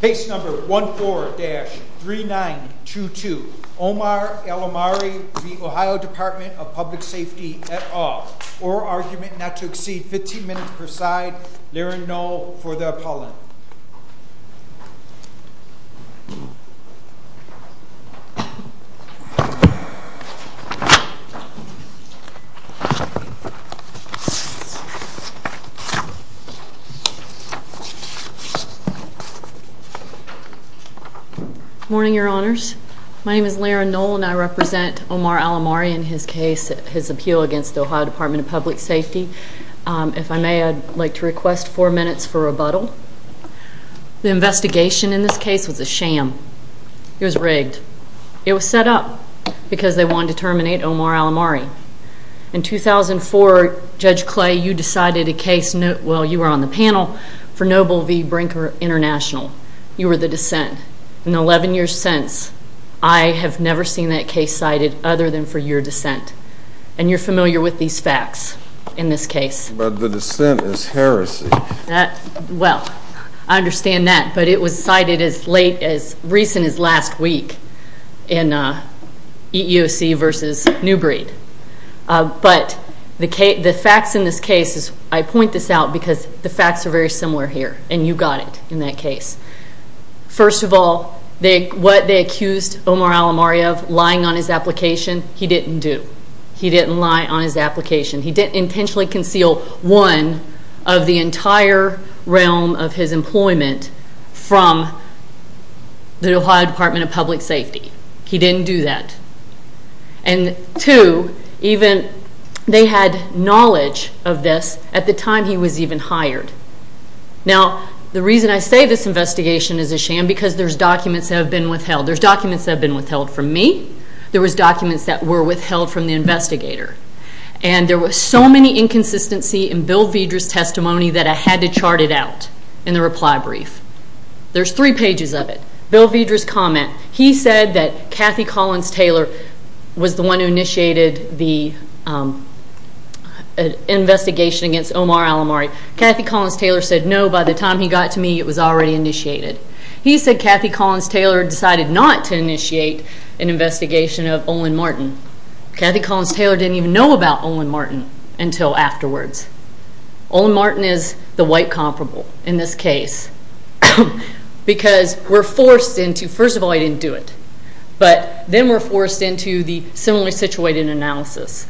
Base number 14-3922 Omar Alomari v. Ohio Department of Public Safety at all or argument not to Morning, your honors. My name is Lara Knoll and I represent Omar Alomari and his case, his appeal against the Ohio Department of Public Safety. If I may, I'd like to request four minutes for rebuttal. The investigation in this case was a sham. It was rigged. It was set up because they wanted to terminate Omar Alomari. In 2004, Judge Clay, you decided a case, well you were on the panel, for Noble v. Brinker International. You were the dissent. In 11 years since, I have never seen that case cited other than for your dissent. And you're familiar with these facts in this case. But the dissent is heresy. Well, I understand that, but it was cited as late, as recent as last week in EEOC v. Newbreed. But the facts in this case, I point this out because the facts are very similar here and you got it in that case. First of all, what they accused Omar Alomari of, lying on his application, he didn't do. He didn't lie on his application. He didn't intentionally conceal, one, of the entire realm of his employment from the Ohio Department of Public Safety. He didn't do that. And two, even, they had knowledge of this at the time he was even hired. Now, the reason I say this investigation is a sham because there's documents that have been withheld. There's documents that have been withheld from me. There was documents that were withheld from the investigator. And there was so many inconsistencies in Bill Vedra's testimony that I had to chart it out in the reply brief. There's three pages of it. Bill Vedra's comment. He said that Kathy Collins Taylor was the one who initiated the investigation against Omar Alomari. Kathy Collins Taylor said, no, by the time he got to me, it was already initiated. He said Kathy Collins Taylor decided not to initiate an investigation of Olin Martin. Kathy Collins Taylor didn't even know about Olin Martin until afterwards. Olin Martin is the white comparable in this case because we're forced into, first of all, he didn't do it. But then we're forced into the similarly situated analysis.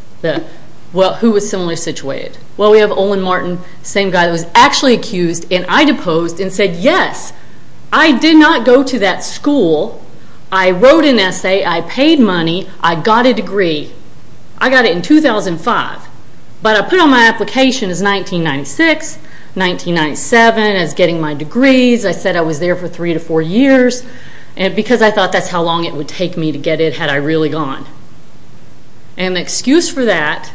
Well, who was similarly situated? Well, we have Olin Martin, the same guy who was actually accused. And I deposed and said, yes, I did not go to that school. I wrote an essay. I paid money. I got a degree. I got it in 2005. But I put on my application as 1996, 1997 as getting my degrees. I said I was there for three to four years because I thought that's how long it would take me to get it had I really gone. And the excuse for that,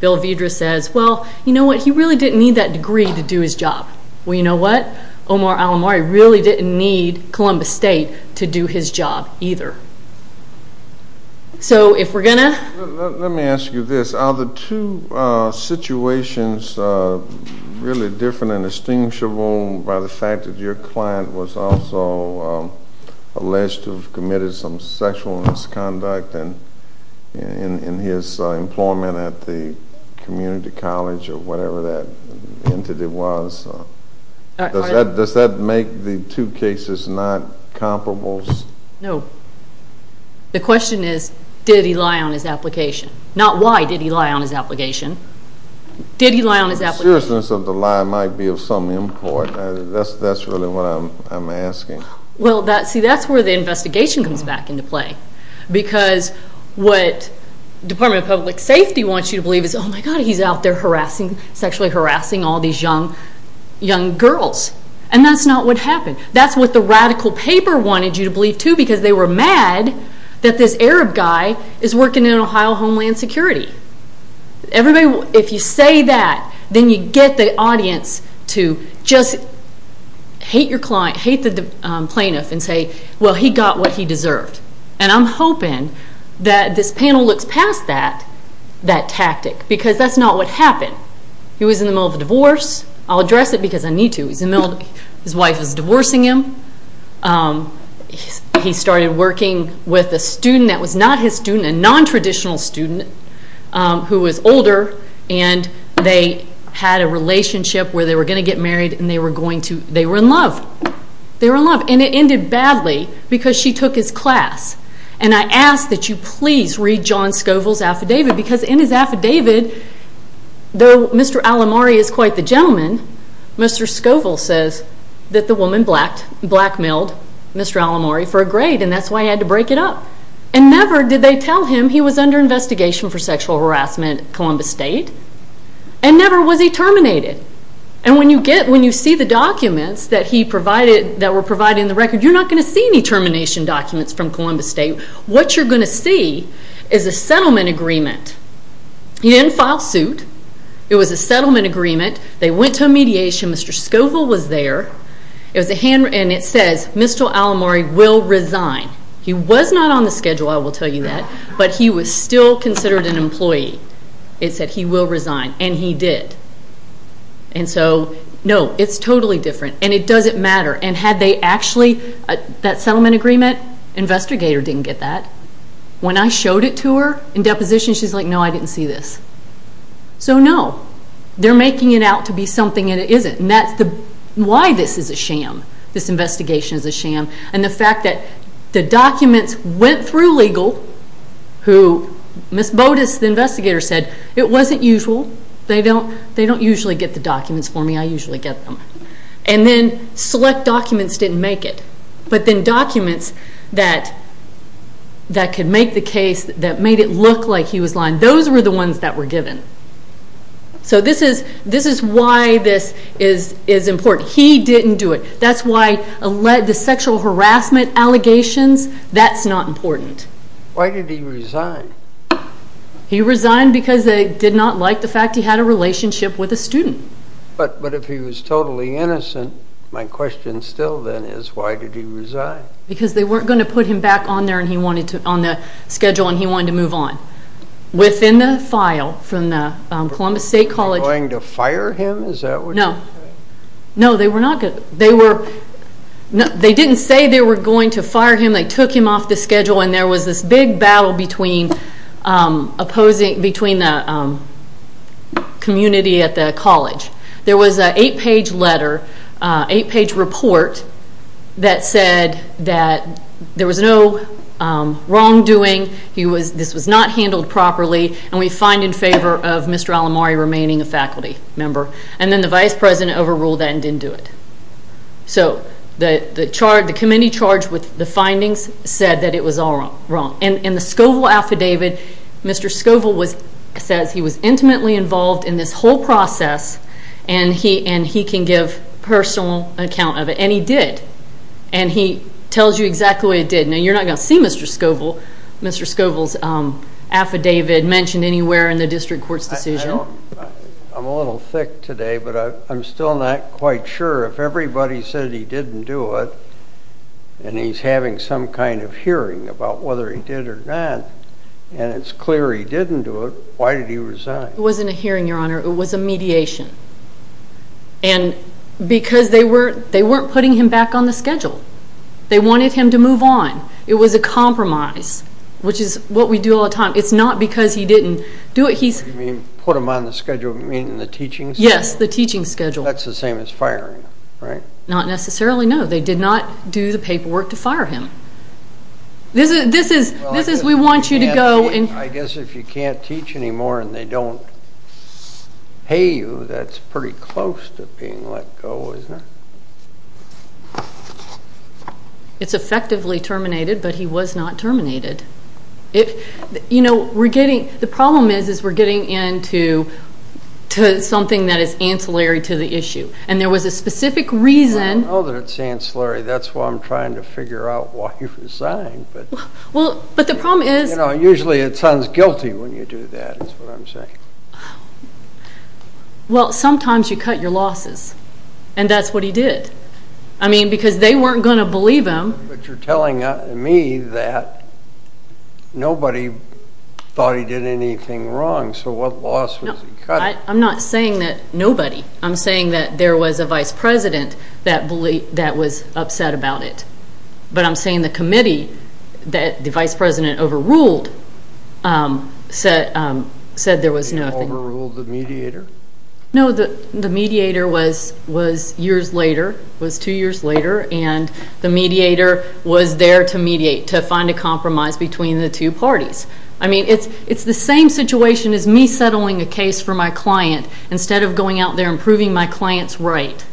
Bill Vedra says, well, you know what? He really didn't need that degree to do his job. Well, you know what? Omar Alomari really didn't need Columbus State to do his job either. So if we're going to. Let me ask you this. Are the two situations really different and distinguishable by the fact that your client was also alleged to have committed some sexual misconduct in his employment at the community college or whatever that entity was? Does that make the two cases not comparable? No. The question is did he lie on his application? Not why did he lie on his application. Did he lie on his application? The seriousness of the lie might be of some import. That's really what I'm asking. Well, see, that's where the investigation comes back into play because what Department of Public Safety wants you to believe is, oh, my God, he's out there sexually harassing all these young girls. And that's not what happened. That's what the radical paper wanted you to believe too because they were mad that this Arab guy is working in Ohio Homeland Security. If you say that, then you get the audience to just hate the plaintiff and say, well, he got what he deserved. And I'm hoping that this panel looks past that tactic because that's not what happened. He was in the middle of a divorce. I'll address it because I need to. His wife was divorcing him. He started working with a student that was not his student, a non-traditional student who was older. And they had a relationship where they were going to get married and they were in love. They were in love. And it ended badly because she took his class. And I ask that you please read John Scoville's affidavit because in his affidavit, though Mr. Alomari is quite the gentleman, Mr. Scoville says that the woman blackmailed Mr. Alomari for a grade and that's why he had to break it up. And never did they tell him he was under investigation for sexual harassment at Columbus State. And never was he terminated. And when you see the documents that were provided in the record, you're not going to see any termination documents from Columbus State. What you're going to see is a settlement agreement. He didn't file suit. It was a settlement agreement. They went to a mediation. Mr. Scoville was there. And it says Mr. Alomari will resign. He was not on the schedule, I will tell you that, but he was still considered an employee. It said he will resign. And he did. And so, no, it's totally different. And it doesn't matter. And had they actually, that settlement agreement, investigator didn't get that. When I showed it to her in deposition, she's like, no, I didn't see this. So, no. They're making it out to be something and it isn't. And that's why this is a sham. This investigation is a sham. And the fact that the documents went through legal, who Ms. Bodas, the investigator, said it wasn't usual. They don't usually get the documents for me. I usually get them. And then select documents didn't make it. But then documents that could make the case, that made it look like he was lying, those were the ones that were given. So this is why this is important. He didn't do it. That's why the sexual harassment allegations, that's not important. Why did he resign? He resigned because they did not like the fact he had a relationship with a student. But if he was totally innocent, my question still then is, why did he resign? Because they weren't going to put him back on the schedule and he wanted to move on. Within the file from the Columbus State College. Were they going to fire him? No. No, they were not going to. They didn't say they were going to fire him. They took him off the schedule and there was this big battle between the community at the college. There was an eight-page letter, eight-page report that said that there was no wrongdoing. This was not handled properly. And we find in favor of Mr. Alamari remaining a faculty member. And then the vice president overruled that and didn't do it. So the committee charged with the findings said that it was all wrong. In the Scoville affidavit, Mr. Scoville says he was intimately involved in this whole process and he can give personal account of it. And he did. And he tells you exactly what he did. Now, you're not going to see Mr. Scoville's affidavit mentioned anywhere in the district court's decision. I'm a little thick today, but I'm still not quite sure. If everybody said he didn't do it and he's having some kind of hearing about whether he did or not, and it's clear he didn't do it, why did he resign? It wasn't a hearing, Your Honor. It was a mediation. And because they weren't putting him back on the schedule. They wanted him to move on. It was a compromise, which is what we do all the time. It's not because he didn't do it. What do you mean, put him on the schedule? You mean the teaching schedule? Yes, the teaching schedule. That's the same as firing him, right? Not necessarily, no. They did not do the paperwork to fire him. This is, we want you to go. I guess if you can't teach anymore and they don't pay you, that's pretty close to being let go, isn't it? It's effectively terminated, but he was not terminated. You know, we're getting, the problem is we're getting into something that is ancillary to the issue, and there was a specific reason. I know that it's ancillary. That's why I'm trying to figure out why he resigned. Well, but the problem is. You know, usually it sounds guilty when you do that, is what I'm saying. Well, sometimes you cut your losses, and that's what he did. I mean, because they weren't going to believe him. But you're telling me that nobody thought he did anything wrong, so what loss was he cutting? I'm not saying that nobody. I'm saying that there was a vice president that was upset about it. But I'm saying the committee that the vice president overruled said there was nothing. He overruled the mediator? No, the mediator was years later, was two years later, and the mediator was there to mediate, to find a compromise between the two parties. I mean, it's the same situation as me settling a case for my client instead of going out there and proving my client's right.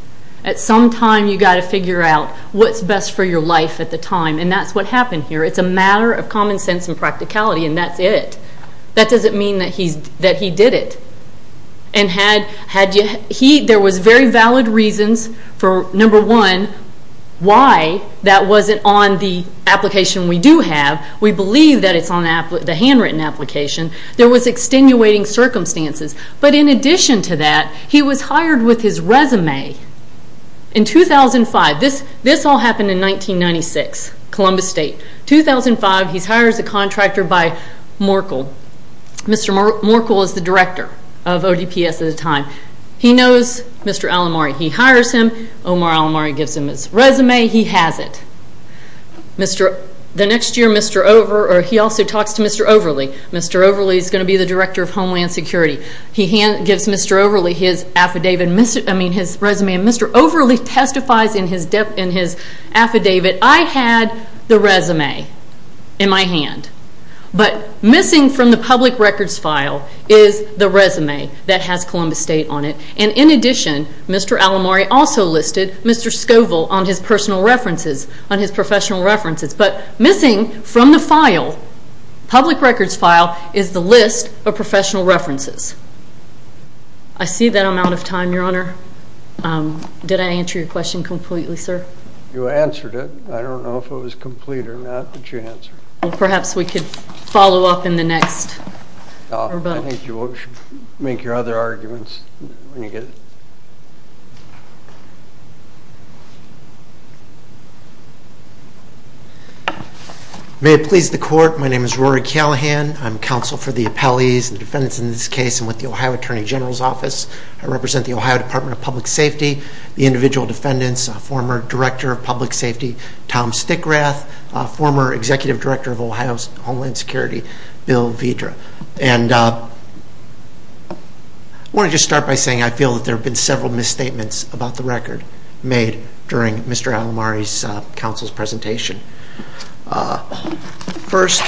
At some time, you've got to figure out what's best for your life at the time, and that's what happened here. It's a matter of common sense and practicality, and that's it. That doesn't mean that he did it. There was very valid reasons for, number one, why that wasn't on the application we do have. We believe that it's on the handwritten application. There was extenuating circumstances. But in addition to that, he was hired with his resume in 2005. This all happened in 1996, Columbus State. 2005, he's hired as a contractor by Merkel. Mr. Merkel is the director of ODPS at the time. He knows Mr. Alomari. He hires him. Omar Alomari gives him his resume. He has it. The next year, he also talks to Mr. Overley. Mr. Overley is going to be the director of Homeland Security. He gives Mr. Overley his resume, and Mr. Overley testifies in his affidavit, I had the resume in my hand. But missing from the public records file is the resume that has Columbus State on it. And in addition, Mr. Alomari also listed Mr. Scoville on his personal references, on his professional references. But missing from the file, public records file, is the list of professional references. I see that I'm out of time, Your Honor. Did I answer your question completely, sir? You answered it. I don't know if it was complete or not, but you answered it. Well, perhaps we could follow up in the next rebuttal. I think you should make your other arguments when you get it. May it please the Court, my name is Rory Callahan. I'm counsel for the appellees and defendants in this case. I'm with the Ohio Attorney General's Office. I represent the Ohio Department of Public Safety, the individual defendants, former Director of Public Safety, Tom Stickrath, former Executive Director of Ohio's Homeland Security, Bill Vitra. And I want to just start by saying I feel that there have been several misstatements about the record made during Mr. Alomari's counsel's presentation. First,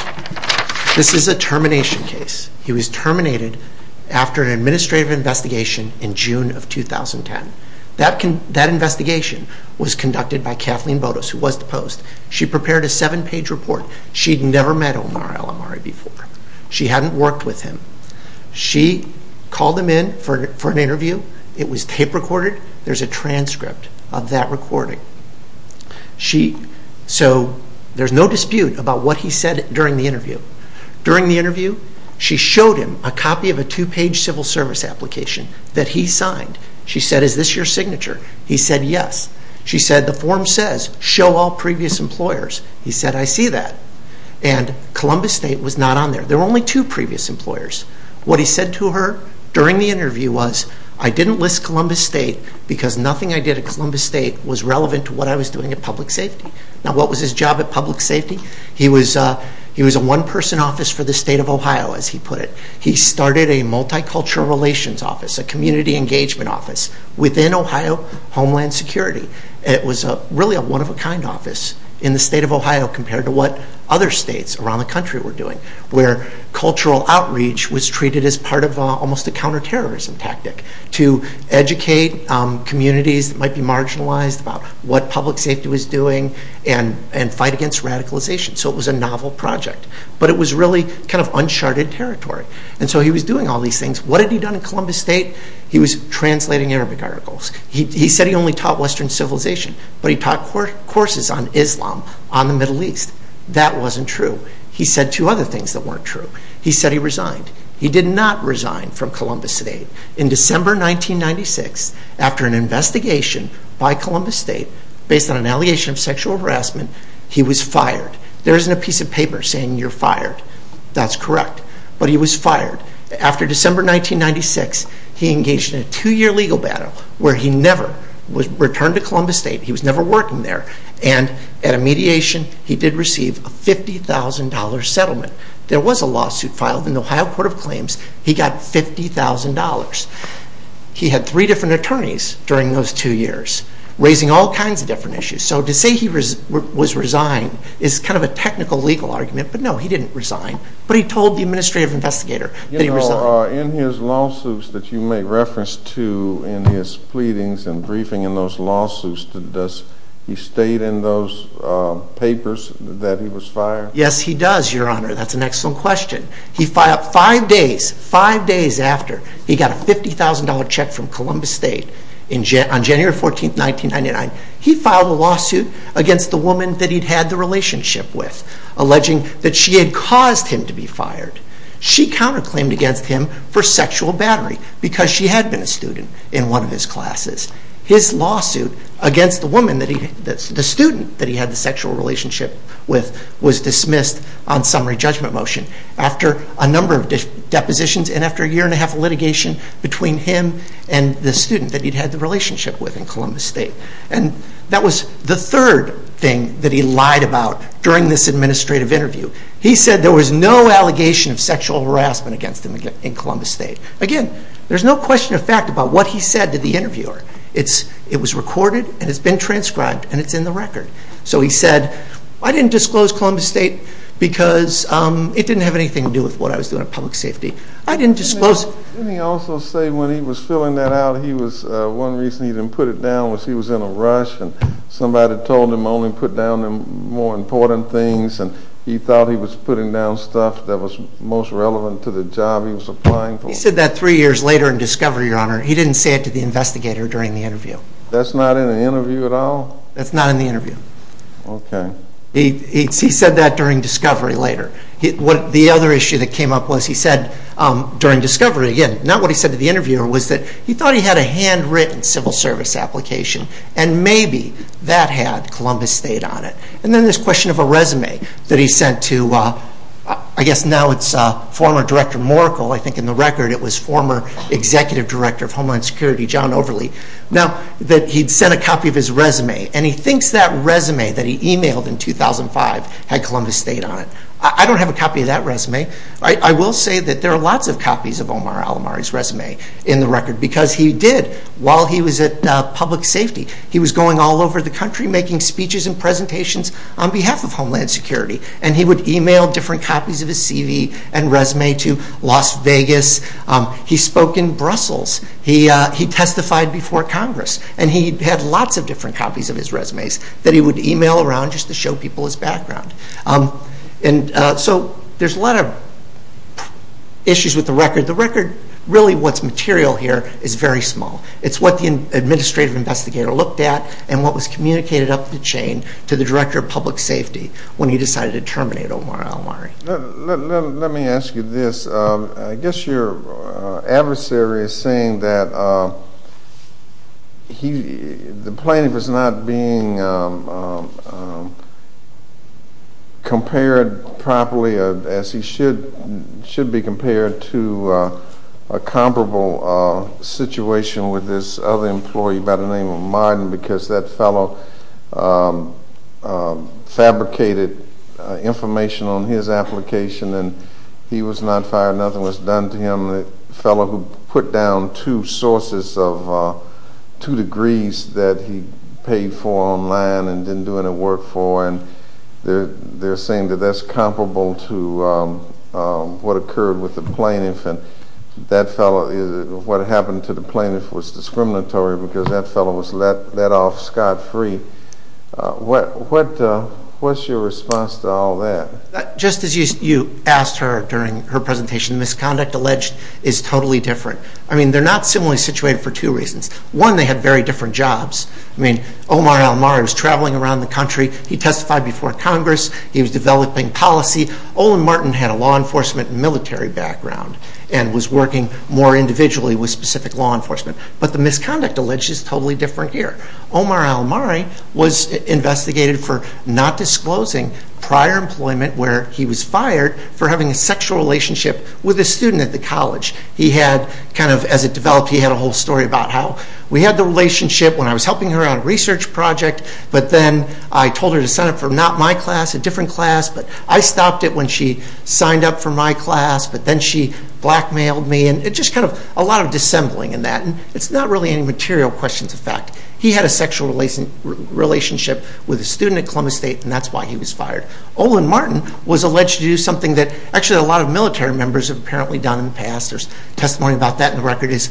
this is a termination case. He was terminated after an administrative investigation in June of 2010. That investigation was conducted by Kathleen Botos, who was deposed. She prepared a seven-page report. She'd never met Omar Alomari before. She hadn't worked with him. She called him in for an interview. It was tape recorded. There's a transcript of that recording. So there's no dispute about what he said during the interview. During the interview, she showed him a copy of a two-page civil service application that he signed. She said, is this your signature? He said, yes. She said, the form says, show all previous employers. He said, I see that. And Columbus State was not on there. There were only two previous employers. What he said to her during the interview was, I didn't list Columbus State because nothing I did at Columbus State was relevant to what I was doing at Public Safety. Now, what was his job at Public Safety? He was a one-person office for the state of Ohio, as he put it. He started a multicultural relations office, a community engagement office, within Ohio Homeland Security. It was really a one-of-a-kind office in the state of Ohio compared to what other states around the country were doing, where cultural outreach was treated as part of almost a counterterrorism tactic to educate communities that might be marginalized about what Public Safety was doing and fight against radicalization. So it was a novel project, but it was really kind of uncharted territory. And so he was doing all these things. What had he done at Columbus State? He was translating Arabic articles. He said he only taught Western civilization, but he taught courses on Islam on the Middle East. That wasn't true. He said two other things that weren't true. He said he resigned. He did not resign from Columbus State. In December 1996, after an investigation by Columbus State based on an allegation of sexual harassment, he was fired. There isn't a piece of paper saying you're fired. That's correct. But he was fired. After December 1996, he engaged in a two-year legal battle where he never returned to Columbus State. He was never working there. And at a mediation, he did receive a $50,000 settlement. There was a lawsuit filed in the Ohio Court of Claims. He got $50,000. He had three different attorneys during those two years, raising all kinds of different issues. So to say he was resigned is kind of a technical legal argument. But no, he didn't resign. But he told the administrative investigator that he resigned. In his lawsuits that you may reference to in his pleadings and briefing in those lawsuits, does he state in those papers that he was fired? Yes, he does, Your Honor. That's an excellent question. Five days after he got a $50,000 check from Columbus State on January 14, 1999, he filed a lawsuit against the woman that he'd had the relationship with, alleging that she had caused him to be fired. She counterclaimed against him for sexual battery because she had been a student in one of his classes. His lawsuit against the student that he had the sexual relationship with was dismissed on summary judgment motion after a number of depositions and after a year and a half of litigation between him and the student that he'd had the relationship with in Columbus State. And that was the third thing that he lied about during this administrative interview. He said there was no allegation of sexual harassment against him in Columbus State. Again, there's no question of fact about what he said to the interviewer. It was recorded and it's been transcribed and it's in the record. So he said, I didn't disclose Columbus State because it didn't have anything to do with what I was doing in public safety. I didn't disclose it. Didn't he also say when he was filling that out, one reason he didn't put it down was he was in a rush and somebody told him only put down the more important things and he thought he was putting down stuff that was most relevant to the job he was applying for. He said that three years later in discovery, Your Honor. He didn't say it to the investigator during the interview. That's not in the interview at all? That's not in the interview. Okay. He said that during discovery later. The other issue that came up was he said during discovery, again, not what he said to the interviewer was that he thought he had a handwritten civil service application and maybe that had Columbus State on it. And then this question of a resume that he sent to, I guess now it's former Director Morkel, I think in the record it was former Executive Director of Homeland Security, John Overley, now that he'd sent a copy of his resume and he thinks that resume that he emailed in 2005 had Columbus State on it. I don't have a copy of that resume. I will say that there are lots of copies of Omar Alomari's resume in the record because he did while he was at public safety. He was going all over the country making speeches and presentations on behalf of Homeland Security and he would email different copies of his CV and resume to Las Vegas. He spoke in Brussels. He testified before Congress and he had lots of different copies of his resumes that he would email around just to show people his background. So there's a lot of issues with the record. The record, really what's material here, is very small. It's what the administrative investigator looked at and what was communicated up the chain to the Director of Public Safety when he decided to terminate Omar Alomari. Let me ask you this. I guess your adversary is saying that the plaintiff is not being compared properly as he should be compared to a comparable situation with this other employee by the name of Martin because that fellow fabricated information on his application and he was not fired, nothing was done to him. The fellow who put down two sources of two degrees that he paid for online and didn't do any work for and they're saying that that's comparable to what occurred with the plaintiff. What happened to the plaintiff was discriminatory because that fellow was let off scot-free. What's your response to all that? Just as you asked her during her presentation, the misconduct alleged is totally different. They're not similarly situated for two reasons. One, they had very different jobs. Omar Alomari was traveling around the country. He testified before Congress. He was developing policy. Olin Martin had a law enforcement and military background and was working more individually with specific law enforcement. But the misconduct alleged is totally different here. Omar Alomari was investigated for not disclosing prior employment where he was fired for having a sexual relationship with a student at the college. As it developed, he had a whole story about how we had the relationship when I was helping her on a research project, but then I told her to sign up for not my class, a different class, but I stopped it when she signed up for my class, but then she blackmailed me. It's just kind of a lot of dissembling in that. It's not really any material questions of fact. He had a sexual relationship with a student at Columbus State, and that's why he was fired. Olin Martin was alleged to do something that actually a lot of military members have apparently done in the past. There's testimony about that in the record, is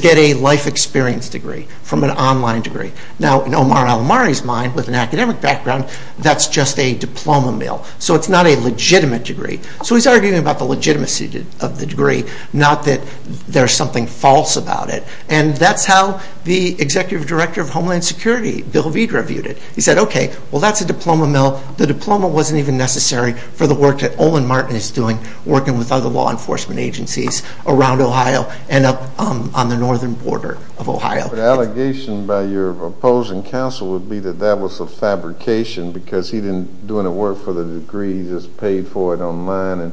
get a life experience degree from an online degree. Now in Omar Alomari's mind, with an academic background, that's just a diploma mill, so it's not a legitimate degree. So he's arguing about the legitimacy of the degree, not that there's something false about it. And that's how the executive director of Homeland Security, Bill Veed, reviewed it. He said, okay, well, that's a diploma mill. The diploma wasn't even necessary for the work that Olin Martin is doing, working with other law enforcement agencies around Ohio and on the northern border of Ohio. The allegation by your opposing counsel would be that that was a fabrication because he didn't do any work for the degree, he just paid for it online and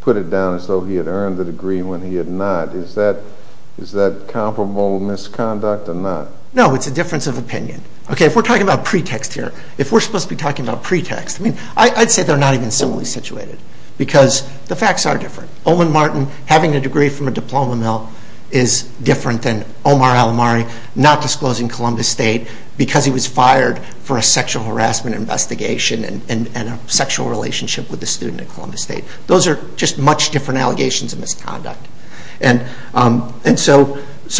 put it down as though he had earned the degree when he had not. Is that comparable misconduct or not? No, it's a difference of opinion. Okay, if we're talking about pretext here, if we're supposed to be talking about pretext, I'd say they're not even similarly situated, because the facts are different. Olin Martin having a degree from a diploma mill is different than Omar Alomari not disclosing Columbus State because he was fired for a sexual harassment investigation and a sexual relationship with a student at Columbus State. Those are just much different allegations of misconduct. And so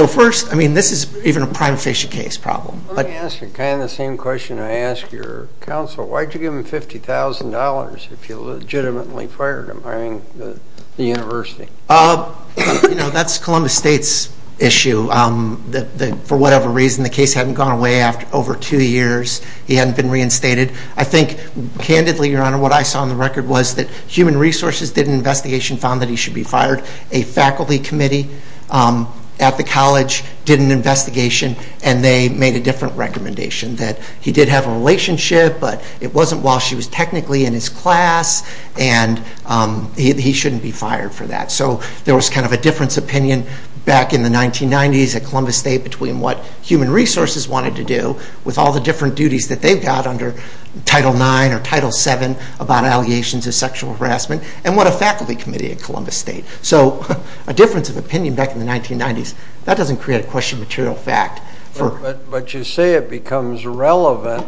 first, I mean, this is even a prima facie case problem. Let me ask you kind of the same question I ask your counsel. Why did you give him $50,000 if you legitimately fired him? I mean, the university. You know, that's Columbus State's issue. For whatever reason, the case hadn't gone away over two years. He hadn't been reinstated. I think, candidly, Your Honor, what I saw on the record was that Human Resources did an investigation and found that he should be fired. A faculty committee at the college did an investigation and they made a different recommendation that he did have a relationship, but it wasn't while she was technically in his class, and he shouldn't be fired for that. So there was kind of a difference of opinion back in the 1990s at Columbus State between what Human Resources wanted to do with all the different duties that they've got under Title IX or Title VII about allegations of sexual harassment and what a faculty committee at Columbus State. So a difference of opinion back in the 1990s. That doesn't create a question of material fact. But you say it becomes relevant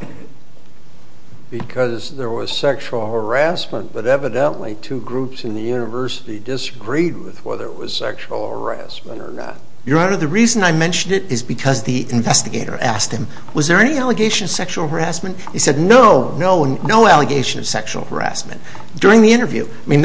because there was sexual harassment, but evidently two groups in the university disagreed with whether it was sexual harassment or not. Your Honor, the reason I mentioned it is because the investigator asked him, was there any allegation of sexual harassment? He said, no, no, no allegation of sexual harassment. During the interview. I mean,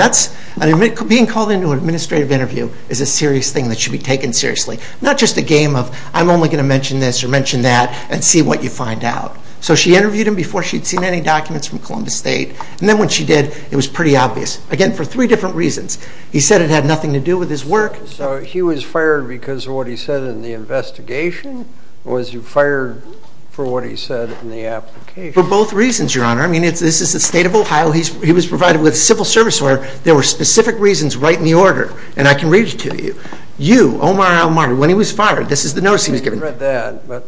being called into an administrative interview is a serious thing that should be taken seriously. Not just a game of, I'm only going to mention this or mention that and see what you find out. So she interviewed him before she'd seen any documents from Columbus State. And then when she did, it was pretty obvious. Again, for three different reasons. He said it had nothing to do with his work. So he was fired because of what he said in the investigation? Or was he fired for what he said in the application? For both reasons, Your Honor. I mean, this is the state of Ohio. He was provided with civil service order. There were specific reasons right in the order. And I can read it to you. You, Omar Al-Marty, when he was fired, this is the notice he was given. I've read that, but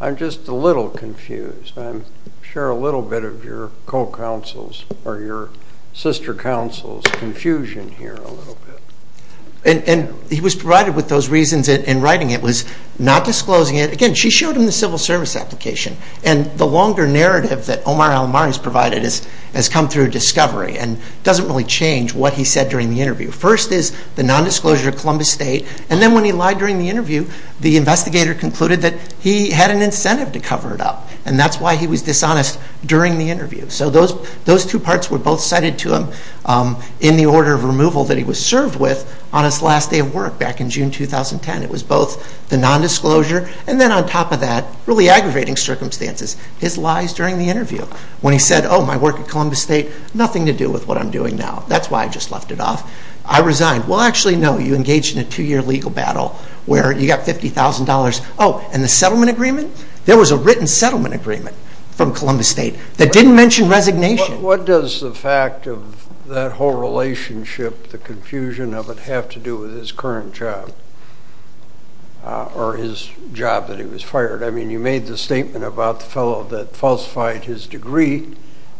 I'm just a little confused. I'm sure a little bit of your co-counsel's or your sister counsel's confusion here a little bit. And he was provided with those reasons in writing. It was not disclosing it. Again, she showed him the civil service application. And the longer narrative that Omar Al-Marty has provided has come through discovery and doesn't really change what he said during the interview. First is the nondisclosure of Columbus State. And then when he lied during the interview, the investigator concluded that he had an incentive to cover it up. And that's why he was dishonest during the interview. So those two parts were both cited to him in the order of removal that he was served with on his last day of work back in June 2010. It was both the nondisclosure and then on top of that, really aggravating circumstances, his lies during the interview. When he said, oh, my work at Columbus State, nothing to do with what I'm doing now. That's why I just left it off. I resigned. Well, actually, no, you engaged in a two-year legal battle where you got $50,000. Oh, and the settlement agreement? There was a written settlement agreement from Columbus State that didn't mention resignation. What does the fact of that whole relationship, the confusion of it, have to do with his current job? Or his job that he was fired? I mean, you made the statement about the fellow that falsified his degree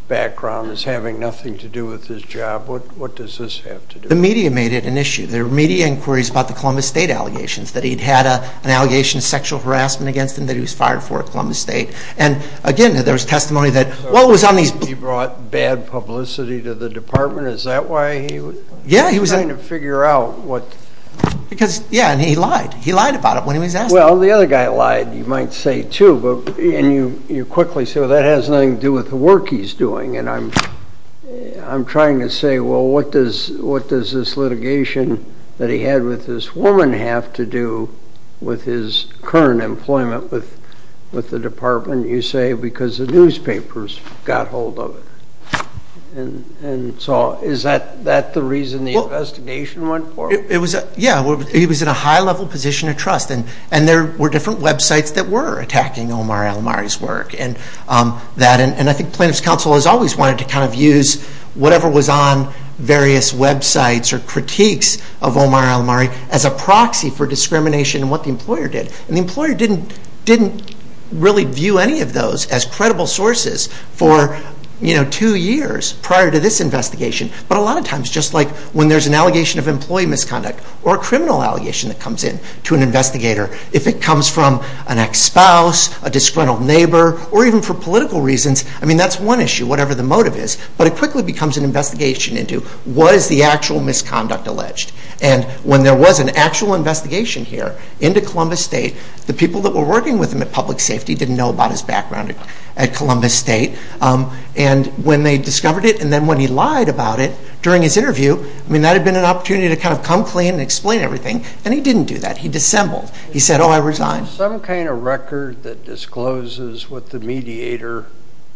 background as having nothing to do with his job. What does this have to do with it? The media made it an issue. There were media inquiries about the Columbus State allegations that he'd had an allegation of sexual harassment against him that he was fired for at Columbus State. And again, there was testimony that, well, it was on these... He brought bad publicity to the department. Is that why he was... Yeah, he was... ...trying to figure out what... Because, yeah, and he lied. He lied about it when he was asked. Well, the other guy lied, you might say, too. And you quickly say, well, that has nothing to do with the work he's doing. And I'm trying to say, well, what does this litigation that he had with this woman have to do with his current employment with the department, you say, because the newspapers got hold of it. And so is that the reason the investigation went forward? It was... Yeah, he was in a high-level position of trust. And there were different websites that were attacking Omar Alomari's work. And I think plaintiff's counsel has always wanted to kind of use whatever was on various websites or critiques of Omar Alomari as a proxy for discrimination in what the employer did. And the employer didn't really view any of those as credible sources for two years prior to this investigation. But a lot of times, just like when there's an allegation of employee misconduct or a criminal allegation that comes in to an investigator, if it comes from an ex-spouse, a disgruntled neighbor, or even for political reasons, I mean, that's one issue, whatever the motive is, but it quickly becomes an investigation into what is the actual misconduct alleged. And when there was an actual investigation here into Columbus State, the people that were working with him at public safety didn't know about his background at Columbus State. And when they discovered it, and then when he lied about it during his interview, I mean, that had been an opportunity to kind of come clean and explain everything. And he didn't do that. He dissembled. He said, oh, I resign. Was there some kind of record that discloses what the mediator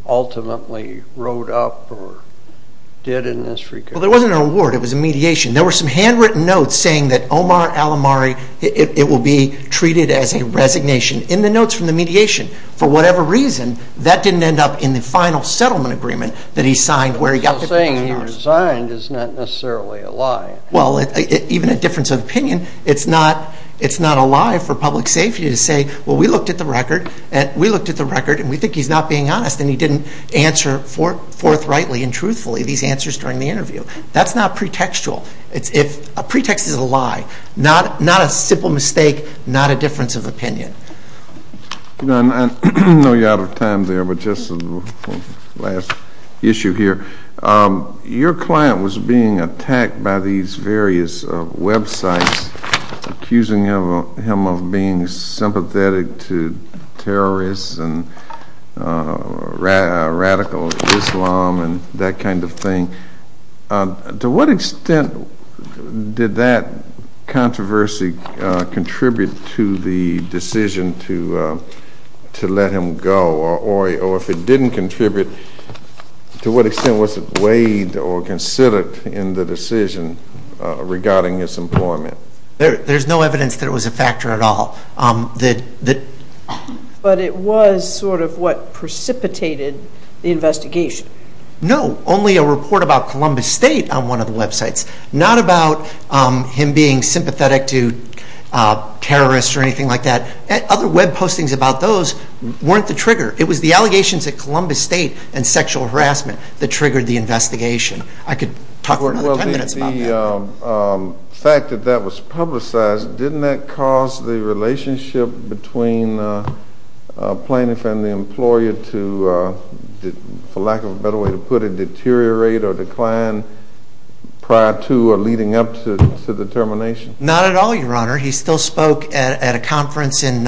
ultimately wrote up or did in this regard? Well, there wasn't an award. It was a mediation. There were some handwritten notes saying that Omar Alomari, it will be treated as a resignation in the notes from the mediation. For whatever reason, that didn't end up in the final settlement agreement that he signed where he got the pension dollars. So saying he resigned is not necessarily a lie. Well, even a difference of opinion, it's not a lie for public safety to say, well, we looked at the record, and we think he's not being honest, and he didn't answer forthrightly and truthfully these answers during the interview. That's not pretextual. A pretext is a lie, not a simple mistake, not a difference of opinion. I know you're out of time there, but just one last issue here. Your client was being attacked by these various websites accusing him of being sympathetic to terrorists and radical Islam and that kind of thing. To what extent did that controversy contribute to the decision to let him go? Or if it didn't contribute, to what extent was it weighed or considered in the decision regarding his employment? There's no evidence that it was a factor at all. But it was sort of what precipitated the investigation. No, only a report about Columbus State on one of the websites, not about him being sympathetic to terrorists or anything like that. Other web postings about those weren't the trigger. It was the allegations at Columbus State and sexual harassment that triggered the investigation. I could talk for another ten minutes about that. The fact that that was publicized, didn't that cause the relationship between the plaintiff and the employer to, for lack of a better way to put it, deteriorate or decline prior to or leading up to the termination? Not at all, Your Honor. He still spoke at a conference in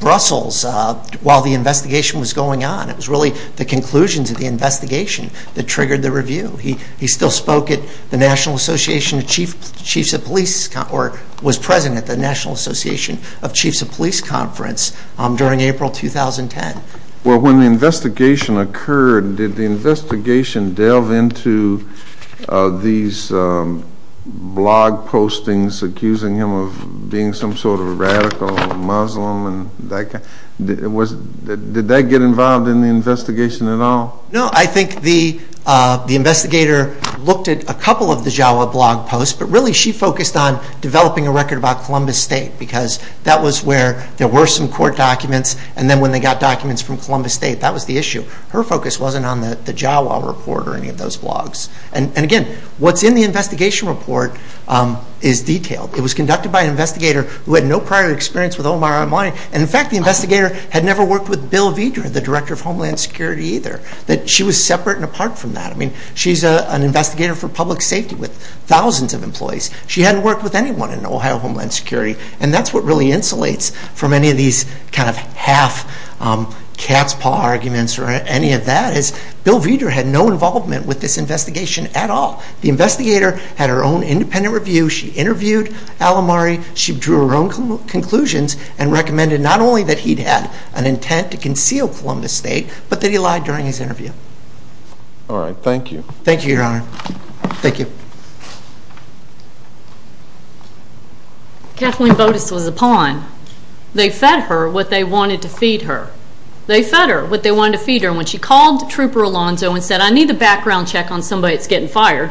Brussels while the investigation was going on. It was really the conclusions of the investigation that triggered the review. He still spoke at the National Association of Chiefs of Police, or was present at the National Association of Chiefs of Police conference during April 2010. Well, when the investigation occurred, did the investigation delve into these blog postings accusing him of being some sort of radical Muslim? Did that get involved in the investigation at all? No. I think the investigator looked at a couple of the Jawa blog posts, but really she focused on developing a record about Columbus State because that was where there were some court documents, and then when they got documents from Columbus State, that was the issue. Her focus wasn't on the Jawa report or any of those blogs. And again, what's in the investigation report is detailed. It was conducted by an investigator who had no prior experience with Omar Imani, and in fact the investigator had never worked with Bill Vedra, the Director of Homeland Security, either. She was separate and apart from that. I mean, she's an investigator for public safety with thousands of employees. She hadn't worked with anyone in Ohio Homeland Security, and that's what really insulates from any of these kind of half cat's paw arguments or any of that because Bill Vedra had no involvement with this investigation at all. The investigator had her own independent review. She interviewed Al Amari. She drew her own conclusions and recommended not only that he'd had an intent to conceal Columbus State but that he lied during his interview. All right. Thank you. Thank you, Your Honor. Thank you. Kathleen Botes was a pawn. They fed her what they wanted to feed her. They fed her what they wanted to feed her, and when she called Trooper Alonzo and said, I need the background check on somebody that's getting fired,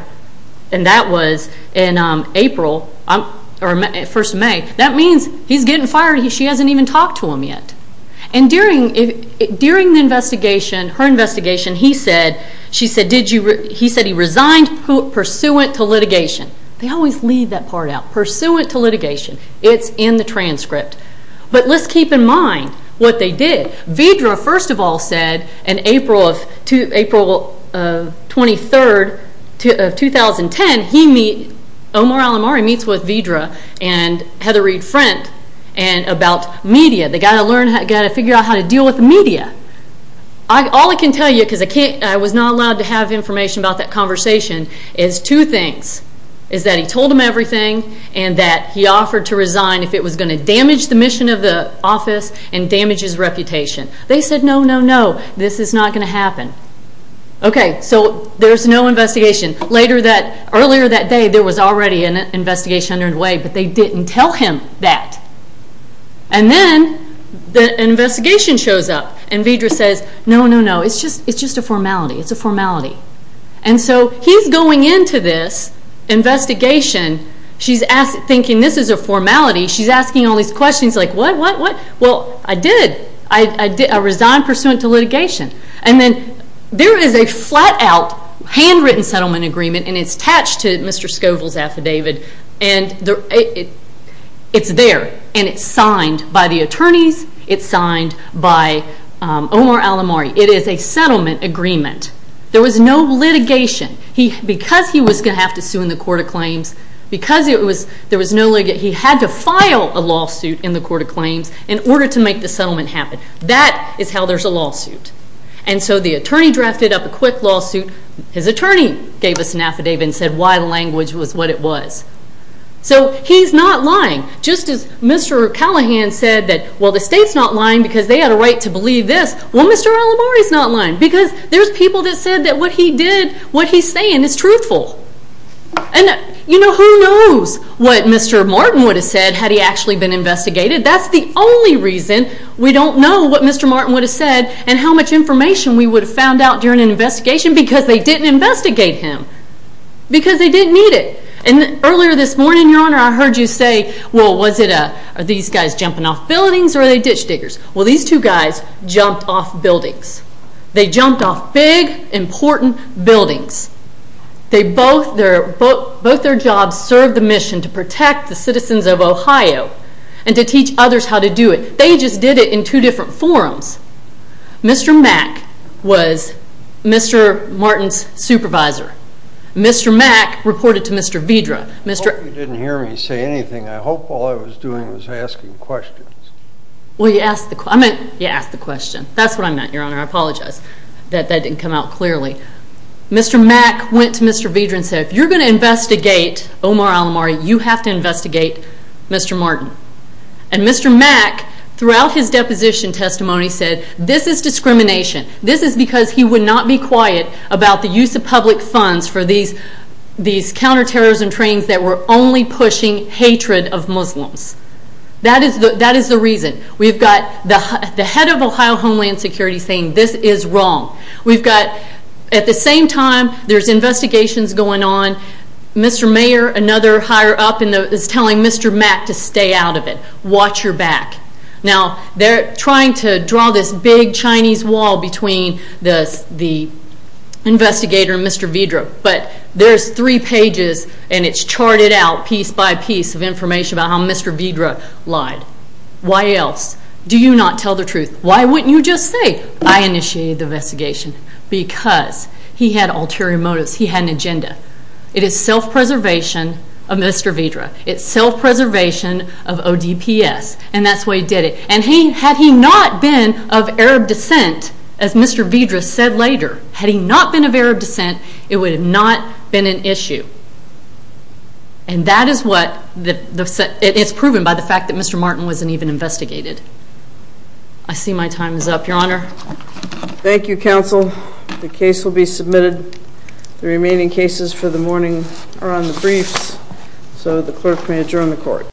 and that was in April, or first of May. That means he's getting fired. She hasn't even talked to him yet. And during the investigation, her investigation, he said he resigned pursuant to litigation. They always leave that part out. Pursuant to litigation. It's in the transcript. But let's keep in mind what they did. Vidra, first of all, said in April of 2010, Omar Al Amari meets with Vidra and Heather Reed Frent about media. They've got to figure out how to deal with media. All I can tell you, because I was not allowed to have information about that conversation, is two things. Is that he told them everything, and that he offered to resign if it was going to damage the mission of the office and damage his reputation. They said, no, no, no. This is not going to happen. Okay, so there's no investigation. Earlier that day, there was already an investigation underway, but they didn't tell him that. And then the investigation shows up, and Vidra says, no, no, no. It's just a formality. It's a formality. And so he's going into this investigation, thinking this is a formality. She's asking all these questions like, what, what, what? Well, I did. I resigned pursuant to litigation. And then there is a flat-out, handwritten settlement agreement, and it's attached to Mr. Scoville's affidavit. And it's there, and it's signed by the attorneys. It's signed by Omar Al Amari. It is a settlement agreement. There was no litigation. Because he was going to have to sue in the Court of Claims, because there was no litigation, that he had to file a lawsuit in the Court of Claims in order to make the settlement happen. That is how there's a lawsuit. And so the attorney drafted up a quick lawsuit. His attorney gave us an affidavit and said why the language was what it was. So he's not lying. Just as Mr. Callahan said that, well, the state's not lying because they had a right to believe this, well, Mr. Al Amari's not lying, because there's people that said that what he did, what he's saying is truthful. And, you know, who knows what Mr. Martin would have said had he actually been investigated. That's the only reason we don't know what Mr. Martin would have said and how much information we would have found out during an investigation because they didn't investigate him, because they didn't need it. And earlier this morning, Your Honor, I heard you say, well, was it these guys jumping off buildings or are they ditch diggers? Well, these two guys jumped off buildings. They jumped off big, important buildings. Both their jobs served the mission to protect the citizens of Ohio and to teach others how to do it. They just did it in two different forms. Mr. Mack was Mr. Martin's supervisor. Mr. Mack reported to Mr. Vidra. I hope you didn't hear me say anything. I hope all I was doing was asking questions. Well, you asked the question. That's what I meant, Your Honor. I apologize that that didn't come out clearly. Mr. Mack went to Mr. Vidra and said, if you're going to investigate Omar Alomari, you have to investigate Mr. Martin. And Mr. Mack, throughout his deposition testimony, said, this is discrimination. This is because he would not be quiet about the use of public funds for these counterterrorism trainings that were only pushing hatred of Muslims. That is the reason. We've got the head of Ohio Homeland Security saying this is wrong. We've got, at the same time, there's investigations going on. Mr. Mayer, another higher up, is telling Mr. Mack to stay out of it. Watch your back. Now, they're trying to draw this big Chinese wall between the investigator and Mr. Vidra, but there's three pages and it's charted out piece by piece of information about how Mr. Vidra lied. Why else? Do you not tell the truth? Why wouldn't you just say, I initiated the investigation? Because he had ulterior motives. He had an agenda. It is self-preservation of Mr. Vidra. It's self-preservation of ODPS, and that's why he did it. And had he not been of Arab descent, as Mr. Vidra said later, had he not been of Arab descent, it would have not been an issue. And that is what, it's proven by the fact that Mr. Martin wasn't even investigated. I see my time is up, Your Honor. Thank you, counsel. The case will be submitted. The remaining cases for the morning are on the briefs, so the clerk may adjourn the court.